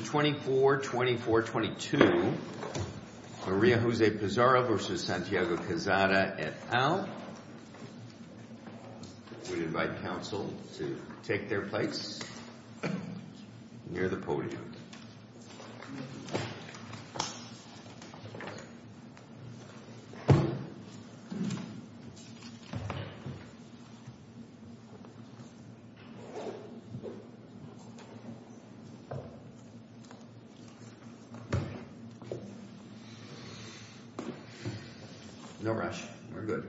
24-24-22 Maria Jose Pizarro v. Santiago Quezada et al. We invite counsel to take their place near the podium. No rush, we're good.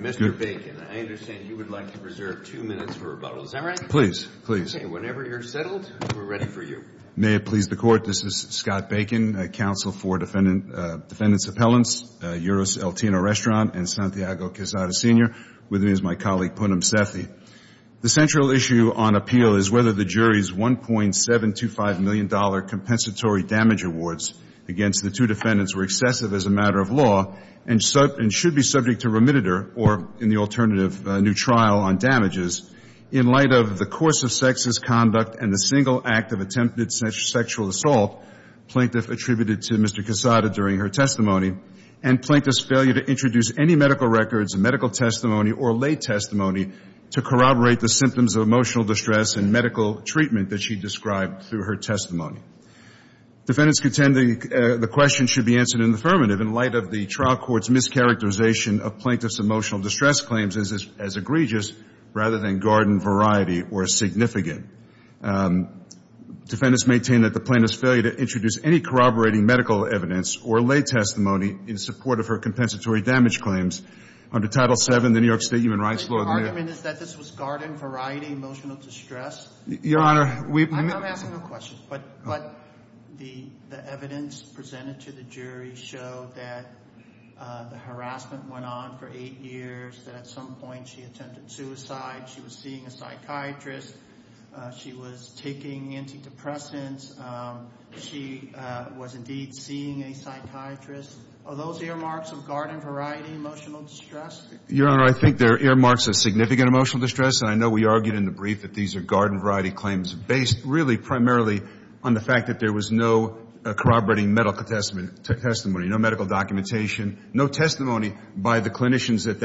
Mr. Bacon, I understand you would like to reserve two minutes for rebuttal. Is that right? Whenever you're settled, we're ready for you. The central issue on appeal is whether the jury's $1.725 million compensatory damage awards against the two defendants were excessive as a matter of law and should be subject to remititor or, in the alternative, new trial on damages, in light of the course of sexist conduct and the single act of attempted sexual assault, plaintiff attributed to Mr. Quezada during her testimony, and plaintiff's failure to introduce any medical records, medical testimony, or lay testimony to corroborate the symptoms of emotional distress and medical treatment that she described through her testimony. Defendants contend the question should be answered in the affirmative, in light of the trial court's mischaracterization of plaintiff's emotional distress claims as egregious rather than garden variety or significant. Defendants maintain that the plaintiff's failure to introduce any corroborating medical evidence or lay testimony in support of her compensatory damage claims under Title VII of the New York State Human Rights Law The argument is that this was garden variety emotional distress? I'm not asking a question, but the evidence presented to the jury showed that the harassment went on for eight years, that at some point she attempted suicide, she was seeing a psychiatrist, she was taking antidepressants, she was indeed seeing a psychiatrist. Are those earmarks of garden variety emotional distress? Your Honor, I think they're earmarks of significant emotional distress, and I know we argued in the brief that these are garden variety claims, based really primarily on the fact that there was no corroborating medical testimony, no medical documentation, no testimony by the clinicians at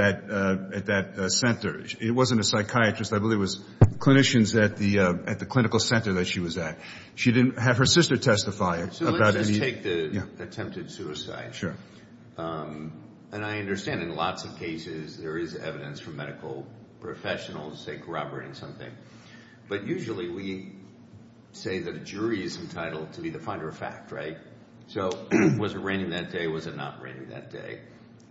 that center. It wasn't a psychiatrist. I believe it was clinicians at the clinical center that she was at. She didn't have her sister testify. So let's just take the attempted suicide. And I understand in lots of cases there is evidence from medical professionals, say, corroborating something. But usually we say that a jury is entitled to be the finder of fact, right? So was it raining that day, was it not raining that day?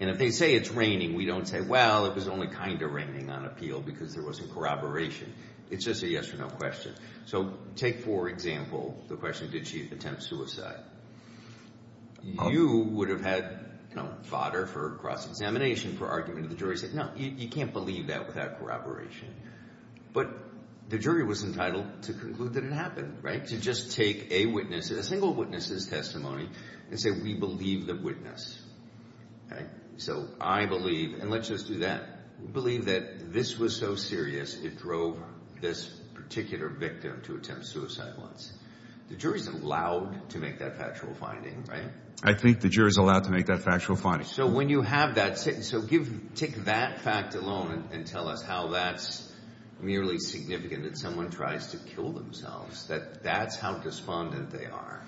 And if they say it's raining, we don't say, well, it was only kind of raining on appeal because there wasn't corroboration. It's just a yes or no question. So take, for example, the question, did she attempt suicide? You would have had fodder for cross-examination for argument. The jury said, no, you can't believe that without corroboration. But the jury was entitled to conclude that it happened, right, to just take a witness, a single witness's testimony, and say, we believe the witness. So I believe, and let's just do that, believe that this was so serious it drove this particular victim to attempt suicide once. The jury is allowed to make that factual finding, right? I think the jury is allowed to make that factual finding. So when you have that, so take that fact alone and tell us how that's merely significant that someone tries to kill themselves, that that's how despondent they are.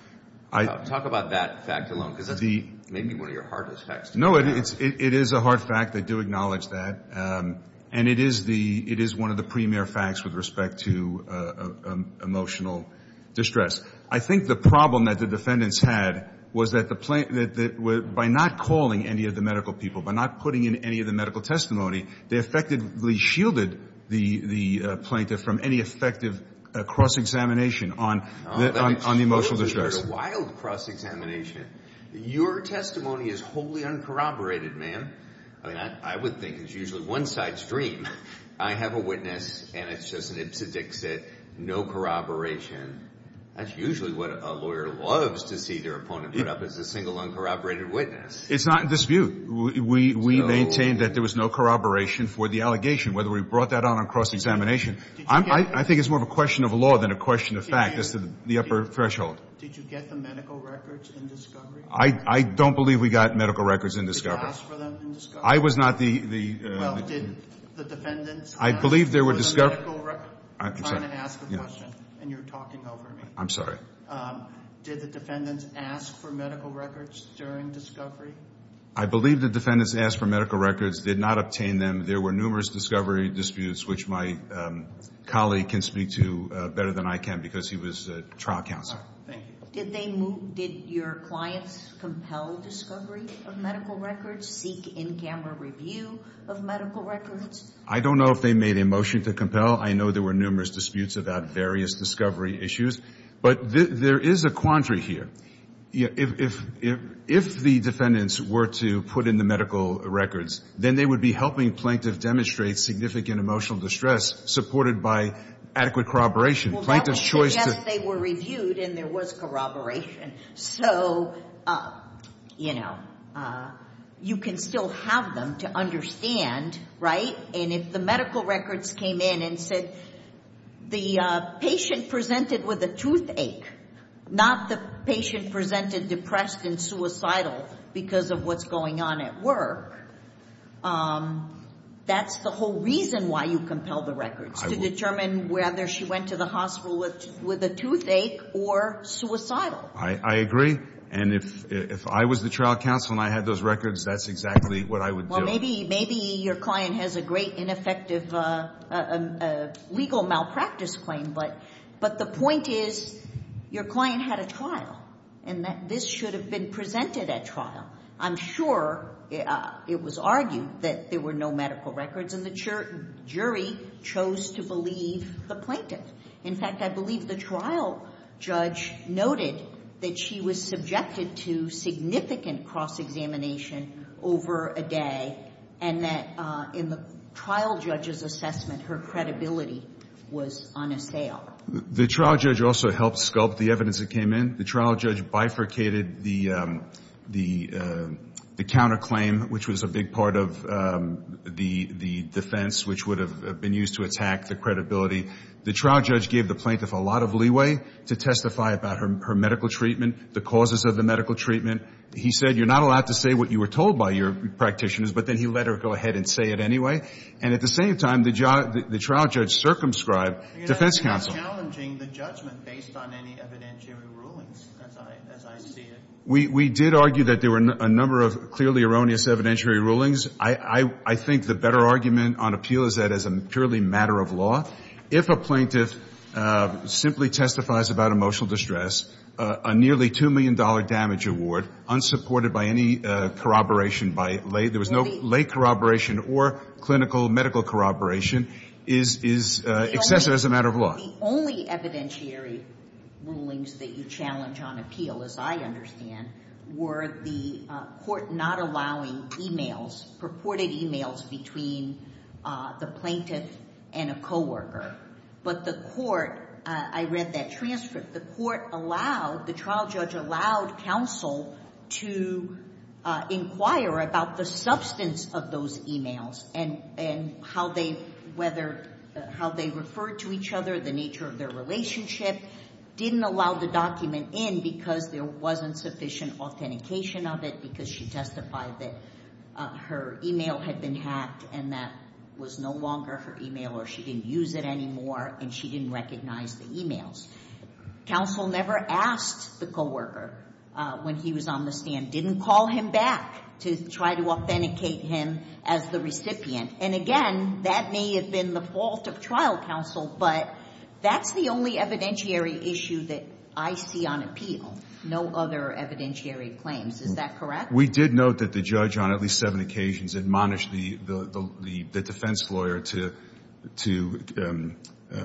Talk about that fact alone because that's maybe one of your hardest facts. No, it is a hard fact. I do acknowledge that, and it is one of the premier facts with respect to emotional distress. I think the problem that the defendants had was that by not calling any of the medical people, by not putting in any of the medical testimony, they effectively shielded the plaintiff from any effective cross-examination on emotional distress. If there's a wild cross-examination, your testimony is wholly uncorroborated, ma'am. I mean, I would think it's usually one side's dream. I have a witness, and it's just an ipsedixit, no corroboration. That's usually what a lawyer loves to see their opponent put up as a single uncorroborated witness. It's not in this view. We maintain that there was no corroboration for the allegation, whether we brought that on on cross-examination. I think it's more of a question of law than a question of fact as to the upper threshold. Did you get the medical records in discovery? I don't believe we got medical records in discovery. Did you ask for them in discovery? I was not the. I'm trying to ask a question, and you're talking over me. Did the defendants ask for medical records during discovery? I believe the defendants asked for medical records, did not obtain them. There were numerous discovery disputes, which my colleague can speak to better than I can because he was trial counsel. Did your clients compel discovery of medical records, seek in-camera review of medical records? I don't know if they made a motion to compel. I know there were numerous disputes about various discovery issues. But there is a quandary here. If the defendants were to put in the medical records, then they would be helping plaintiff demonstrate significant emotional distress supported by adequate corroboration. Well, that would suggest they were reviewed and there was corroboration. So, you know, you can still have them to understand, right? And if the medical records came in and said, the patient presented with a toothache, not the patient presented depressed and suicidal because of what's going on at work, that's the whole reason why you compel the records, to determine whether she went to the hospital with a toothache or suicidal. I agree. And if I was the trial counsel and I had those records, that's exactly what I would do. Well, maybe your client has a great ineffective legal malpractice claim, but the point is your client had a trial and that this should have been presented at trial. I'm sure it was argued that there were no medical records and the jury chose to believe the plaintiff. In fact, I believe the trial judge noted that she was subjected to significant cross-examination over a day and that in the trial judge's assessment, her credibility was on a sale. The trial judge also helped sculpt the evidence that came in. The trial judge bifurcated the counterclaim, which was a big part of the defense, which would have been used to attack the credibility. The trial judge gave the plaintiff a lot of leeway to testify about her medical treatment, the causes of the medical treatment. He said, you're not allowed to say what you were told by your practitioners, but then he let her go ahead and say it anyway. And at the same time, the trial judge circumscribed defense counsel. We did argue that there were a number of clearly erroneous evidentiary rulings. I think the better argument on appeal is that as a purely matter of law, if a plaintiff simply testifies about emotional distress, a nearly $2 million damage award, unsupported by any corroboration by lay, there was no lay corroboration or clinical medical corroboration, is excessive as a matter of law. The only evidentiary rulings that you challenge on appeal, as I understand, were the court not allowing e-mails, purported e-mails, between the plaintiff and a coworker. But the court, I read that transcript, the court allowed, the trial judge allowed counsel to inquire about the substance of those e-mails and how they referred to each other, the nature of their relationship. Didn't allow the document in because there wasn't sufficient authentication of it because she testified that her e-mail had been hacked and that was no longer her e-mail or she didn't use it anymore and she didn't recognize the e-mails. Counsel never asked the coworker when he was on the stand, didn't call him back to try to authenticate him as the recipient. And again, that may have been the fault of trial counsel, but that's the only evidentiary issue that I see on appeal. No other evidentiary claims. Is that correct? We did note that the judge on at least seven occasions admonished the defense lawyer to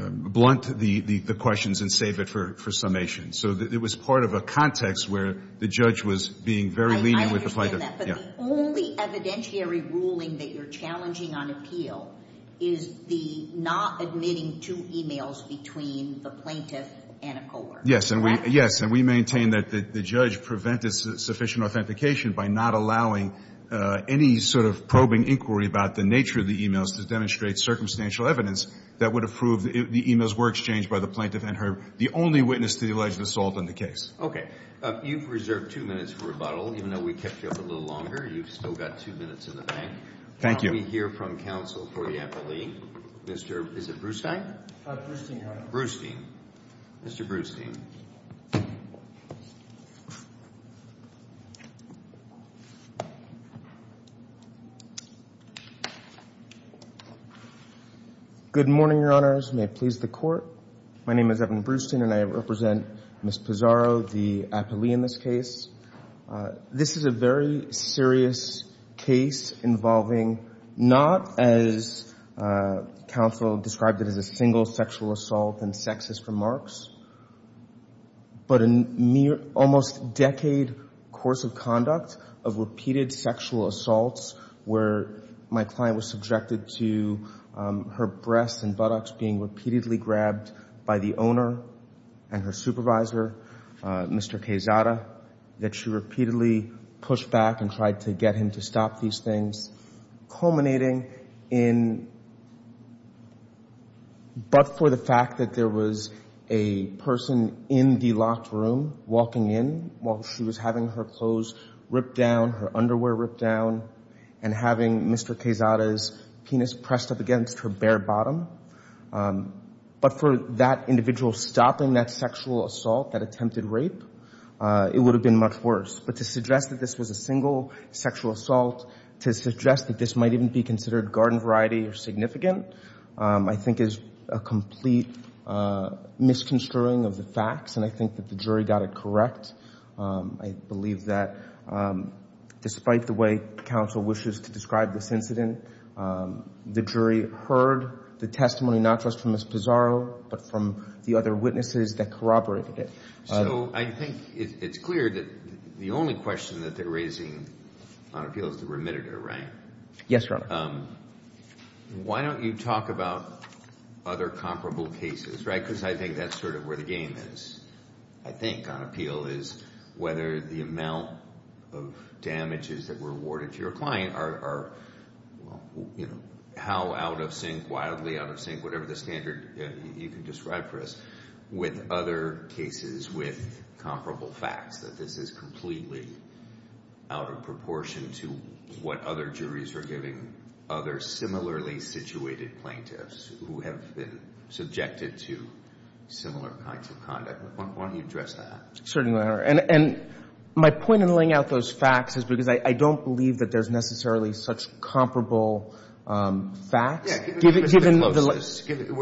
blunt the questions and save it for summation. So it was part of a context where the judge was being very lenient with the plaintiff. I understand that. But the only evidentiary ruling that you're challenging on appeal is the not admitting to e-mails between the plaintiff and a coworker. Yes. Correct? Yes, and we maintain that the judge prevented sufficient authentication by not allowing any sort of probing inquiry about the nature of the e-mails to demonstrate circumstantial evidence that would have proved the e-mails were exchanged by the plaintiff and her the only witness to the alleged assault in the case. Okay. You've reserved two minutes for rebuttal, even though we kept you up a little longer. You've still got two minutes in the bank. Thank you. Why don't we hear from counsel for the appellee. Is it Brewstein? Brewstein, Your Honor. Brewstein. Mr. Brewstein. Good morning, Your Honors. May it please the Court. My name is Evan Brewstein, and I represent Ms. Pizarro, the appellee in this case. This is a very serious case involving not, as counsel described it, as a single sexual assault and sexist remarks, but an almost decade course of conduct of repeated sexual assaults where my client was subjected to her breasts and buttocks being repeatedly grabbed by the owner and her supervisor, Mr. Quezada, that she repeatedly pushed back and tried to get him to stop these things, culminating in but for the fact that there was a person in the locked room walking in while she was having her clothes ripped down, her underwear ripped down, and having Mr. Quezada's penis pressed up against her bare bottom. But for that individual stopping that sexual assault, that attempted rape, it would have been much worse. But to suggest that this was a single sexual assault, to suggest that this might even be considered garden variety or significant, I think is a complete misconstruing of the facts, and I think that the jury got it correct. I believe that despite the way counsel wishes to describe this incident, the jury heard the testimony not just from Ms. Pizarro, but from the other witnesses that corroborated it. So I think it's clear that the only question that they're raising on appeal is the remitted rank. Yes, Your Honor. Why don't you talk about other comparable cases? Because I think that's sort of where the game is, I think, on appeal, is whether the amount of damages that were awarded to your client are, you know, how out of sync, wildly out of sync, whatever the standard you can describe for us, with other cases with comparable facts, that this is completely out of proportion to what other juries are giving other similarly situated plaintiffs who have been subjected to similar kinds of conduct. Why don't you address that? Certainly, Your Honor. And my point in laying out those facts is because I don't believe that there's necessarily such comparable facts.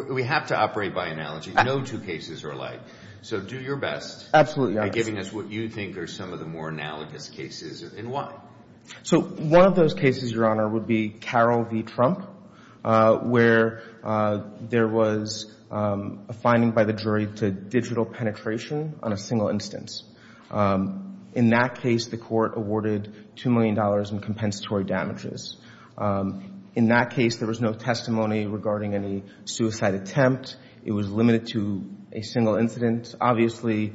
We have to operate by analogy. No two cases are alike. So do your best. Absolutely, Your Honor. By giving us what you think are some of the more analogous cases and why. So one of those cases, Your Honor, would be Carroll v. Trump, where there was a finding by the jury to digital penetration on a single instance. In that case, the court awarded $2 million in compensatory damages. In that case, there was no testimony regarding any suicide attempt. It was limited to a single incident. Obviously,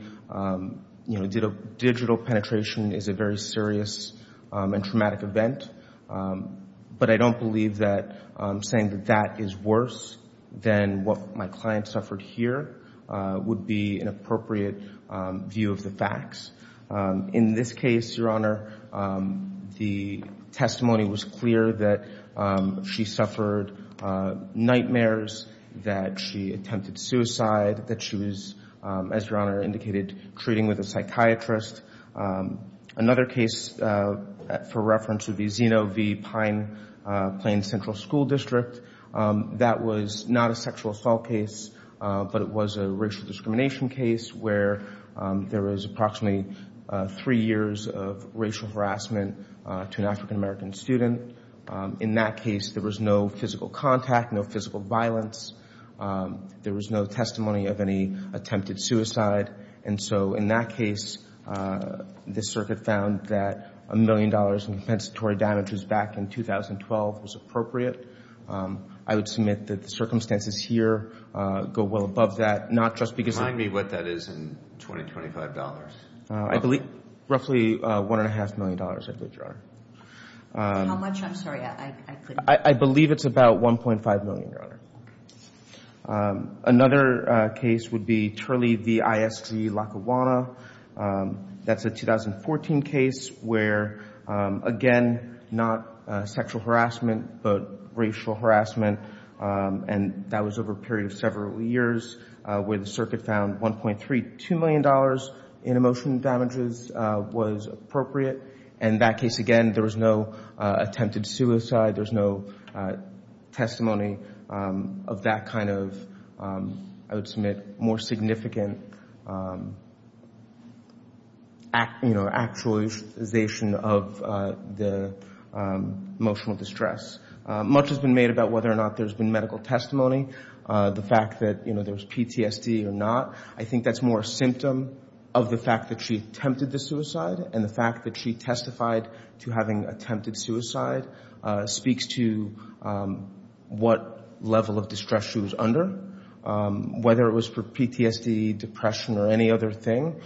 you know, digital penetration is a very serious and traumatic event. But I don't believe that saying that that is worse than what my client suffered here would be an appropriate view of the facts. In this case, Your Honor, the testimony was clear that she suffered nightmares, that she attempted suicide, that she was, as Your Honor indicated, treating with a psychiatrist. Another case for reference would be Zeno v. Pine Plain Central School District. That was not a sexual assault case, but it was a racial discrimination case where there was approximately three years of racial harassment to an African-American student. In that case, there was no physical contact, no physical violence. There was no testimony of any attempted suicide. And so in that case, the circuit found that $1 million in compensatory damages back in 2012 was appropriate. I would submit that the circumstances here go well above that, not just because of— Remind me what that is in 2025 dollars. I believe roughly $1.5 million, I believe, Your Honor. How much? I'm sorry. I couldn't— I believe it's about $1.5 million, Your Honor. Another case would be Turley v. ISG Lackawanna. That's a 2014 case where, again, not sexual harassment, but racial harassment. And that was over a period of several years where the circuit found $1.32 million in emotional damages was appropriate. In that case, again, there was no attempted suicide. There was no testimony of that kind of, I would submit, more significant actualization of the emotional distress. Much has been made about whether or not there's been medical testimony, the fact that there was PTSD or not. I think that's more a symptom of the fact that she attempted the suicide, and the fact that she testified to having attempted suicide speaks to what level of distress she was under. Whether it was for PTSD, depression, or any other thing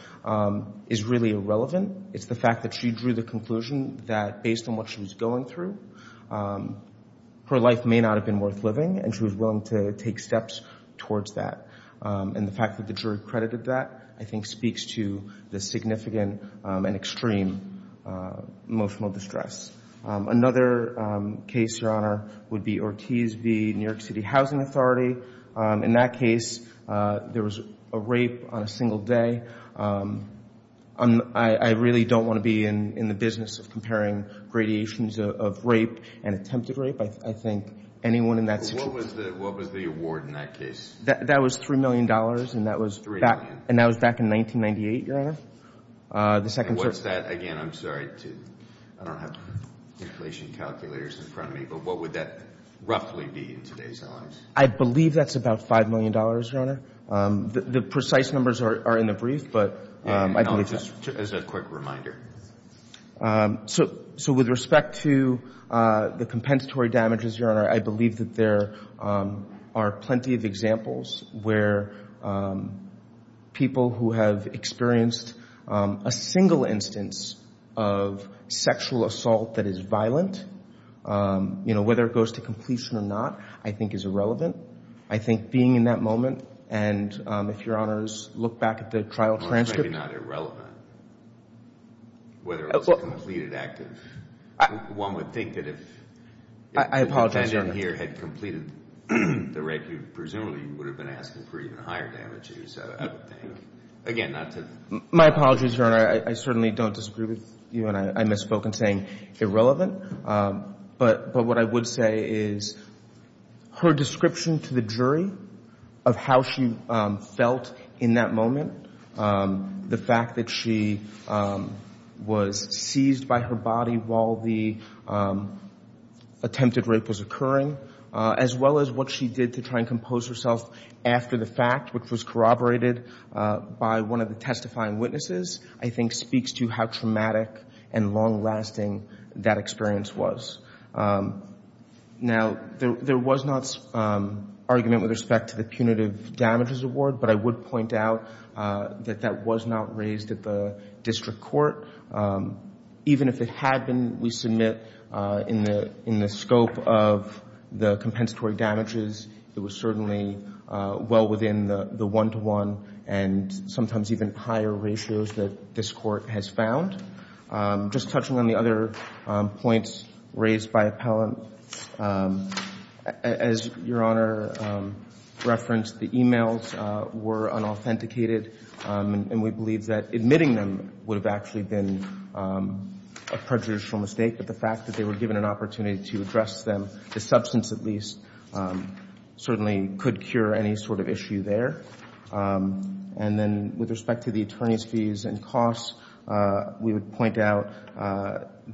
is really irrelevant. It's the fact that she drew the conclusion that, based on what she was going through, her life may not have been worth living, and she was willing to take steps towards that. And the fact that the jury credited that, I think, speaks to the significant and extreme emotional distress. Another case, Your Honor, would be Ortiz v. New York City Housing Authority. In that case, there was a rape on a single day. I really don't want to be in the business of comparing gradations of rape and attempted rape. I think anyone in that situation— What was the award in that case? That was $3 million, and that was back in 1998, Your Honor. And what's that? Again, I'm sorry to—I don't have inflation calculators in front of me, but what would that roughly be in today's dollars? I believe that's about $5 million, Your Honor. The precise numbers are in the brief, but I believe that's— Just as a quick reminder. So with respect to the compensatory damages, Your Honor, I believe that there are plenty of examples where people who have experienced a single instance of sexual assault that is violent, you know, whether it goes to completion or not, I think is irrelevant. I think being in that moment, and if Your Honors look back at the trial transcript— Whether it was a completed active—one would think that if— I apologize, Your Honor. —the defendant here had completed the rape, you presumably would have been asking for even higher damages, I would think. Again, not to— My apologies, Your Honor. I certainly don't disagree with you when I misspoke in saying irrelevant. But what I would say is her description to the jury of how she felt in that moment, the fact that she was seized by her body while the attempted rape was occurring, as well as what she did to try and compose herself after the fact, which was corroborated by one of the testifying witnesses, I think speaks to how traumatic and long-lasting that experience was. Now, there was not argument with respect to the punitive damages award, but I would point out that that was not raised at the district court. Even if it had been, we submit, in the scope of the compensatory damages, it was certainly well within the one-to-one and sometimes even higher ratios that this court has found. Just touching on the other points raised by appellant, as Your Honor referenced, the e-mails were unauthenticated, and we believe that admitting them would have actually been a prejudicial mistake. But the fact that they were given an opportunity to address them, the substance at least, certainly could cure any sort of issue there. And then with respect to the attorney's fees and costs, we would point out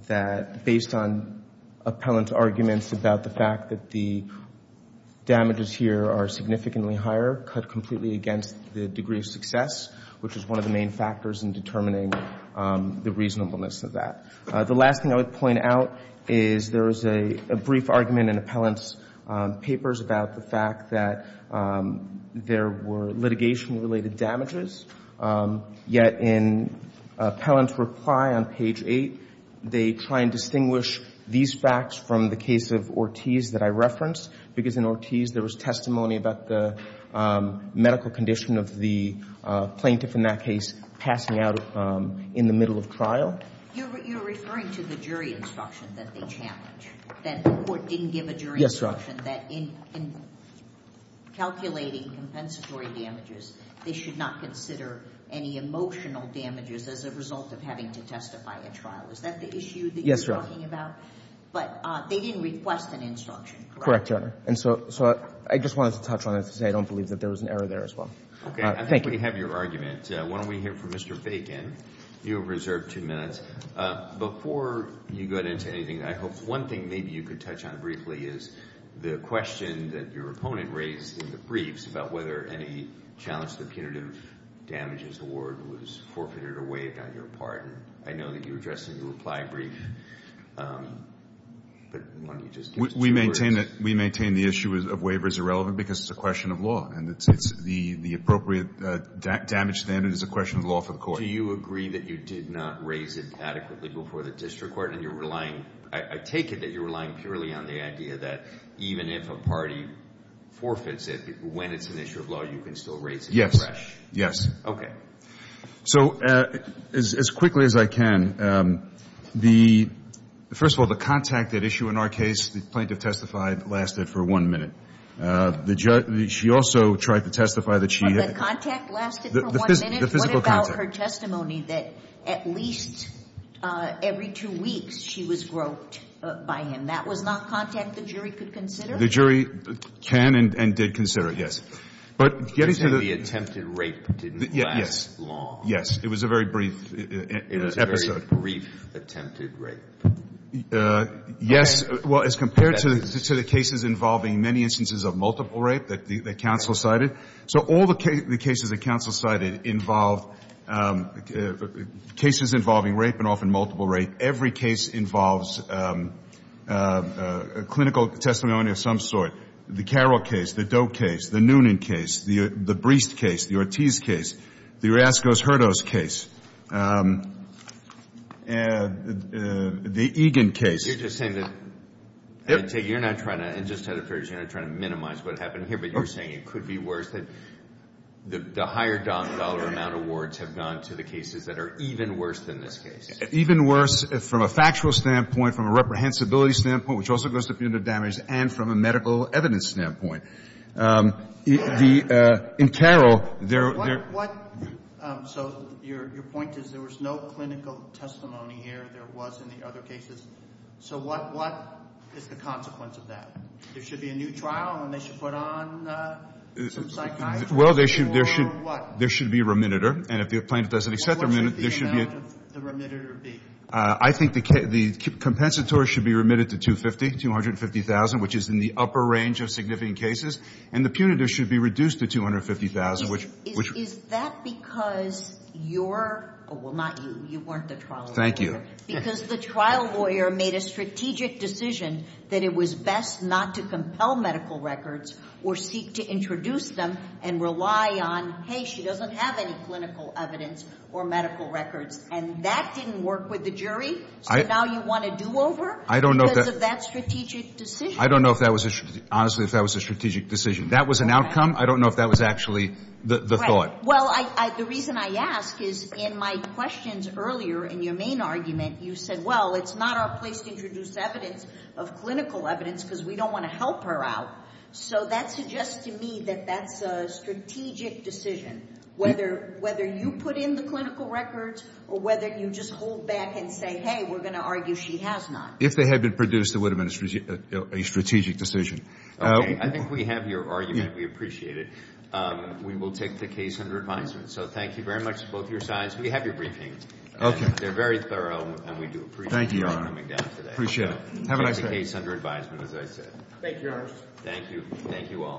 that, based on appellant's arguments about the fact that the damages here are significantly higher, cut completely against the degree of success, which is one of the main factors in determining the reasonableness of that. The last thing I would point out is there was a brief argument in appellant's papers about the fact that there were litigation-related damages. Yet in appellant's reply on page 8, they try and distinguish these facts from the case of Ortiz that I referenced, because in Ortiz there was testimony about the medical condition of the plaintiff in that case passing out in the middle of trial. You're referring to the jury instruction that they challenged, that the court didn't give a jury instruction that in calculating compensatory damages, they should not consider any emotional damages as a result of having to testify at trial. Is that the issue that you're talking about? But they didn't request an instruction, correct? Correct, Your Honor. And so I just wanted to touch on it, because I don't believe that there was an error there as well. Okay. Thank you. I think we have your argument. Why don't we hear from Mr. Bacon? You have reserved two minutes. Before you go into anything, I hope one thing maybe you could touch on briefly is the question that your opponent raised in the briefs about whether any challenge to the punitive damages award was forfeited or waived on your part. And I know that you addressed it in your reply brief. But let me just give it to the jurors. We maintain the issue of waiver is irrelevant because it's a question of law. And it's the appropriate damage standard is a question of law for the court. Do you agree that you did not raise it adequately before the district court? And you're relying, I take it that you're relying purely on the idea that even if a party forfeits it, when it's an issue of law, you can still raise it? Yes. Okay. So as quickly as I can, first of all, the contact at issue in our case, the plaintiff testified, lasted for one minute. She also tried to testify that she had The contact lasted for one minute? The physical contact. What about her testimony that at least every two weeks she was groped by him? That was not contact the jury could consider? The jury can and did consider it, yes. But getting to the You're saying the attempted rape didn't last long? Yes. It was a very brief episode. It was a very brief attempted rape. Yes. Well, as compared to the cases involving many instances of multiple rape that counsel cited. So all the cases that counsel cited involved cases involving rape and often multiple rape. Every case involves a clinical testimony of some sort. The Carroll case, the Doe case, the Noonan case, the Breest case, the Ortiz case, the Orozco-Herdos case, the Egan case. You're just saying that you're not trying to minimize what happened here, but you're saying it could be worse, that the higher dollar amount awards have gone to the cases that are even worse than this case. Even worse from a factual standpoint, from a reprehensibility standpoint, which also goes to punitive damage, and from a medical evidence standpoint. In Carroll, there So your point is there was no clinical testimony here. There was in the other cases. So what is the consequence of that? There should be a new trial, and they should put on some psychiatry or what? Well, there should be a remittitor. And if the plaintiff doesn't accept the remittitor, there should be a What should the amount of the remittitor be? I think the compensatory should be remitted to $250,000, which is in the upper range of significant cases. And the punitive should be reduced to $250,000, which Is that because you're – well, not you. You weren't the trial lawyer. Thank you. Because the trial lawyer made a strategic decision that it was best not to compel medical records or seek to introduce them and rely on, hey, she doesn't have any clinical evidence or medical records. And that didn't work with the jury. So now you want a do-over because of that strategic decision? I don't know if that was a – honestly, if that was a strategic decision. That was an outcome. I don't know if that was actually the thought. Well, the reason I ask is in my questions earlier in your main argument, you said, well, it's not our place to introduce evidence of clinical evidence because we don't want to help her out. So that suggests to me that that's a strategic decision, whether you put in the clinical records or whether you just hold back and say, hey, we're going to argue she has not. If they had been produced, it would have been a strategic decision. Okay. I think we have your argument. We appreciate it. We will take the case under advisement. So thank you very much to both your sides. We have your briefing. Okay. They're very thorough, and we do appreciate you coming down today. Appreciate it. Take the case under advisement, as I said. Thank you, Your Honor. Thank you. Thank you all.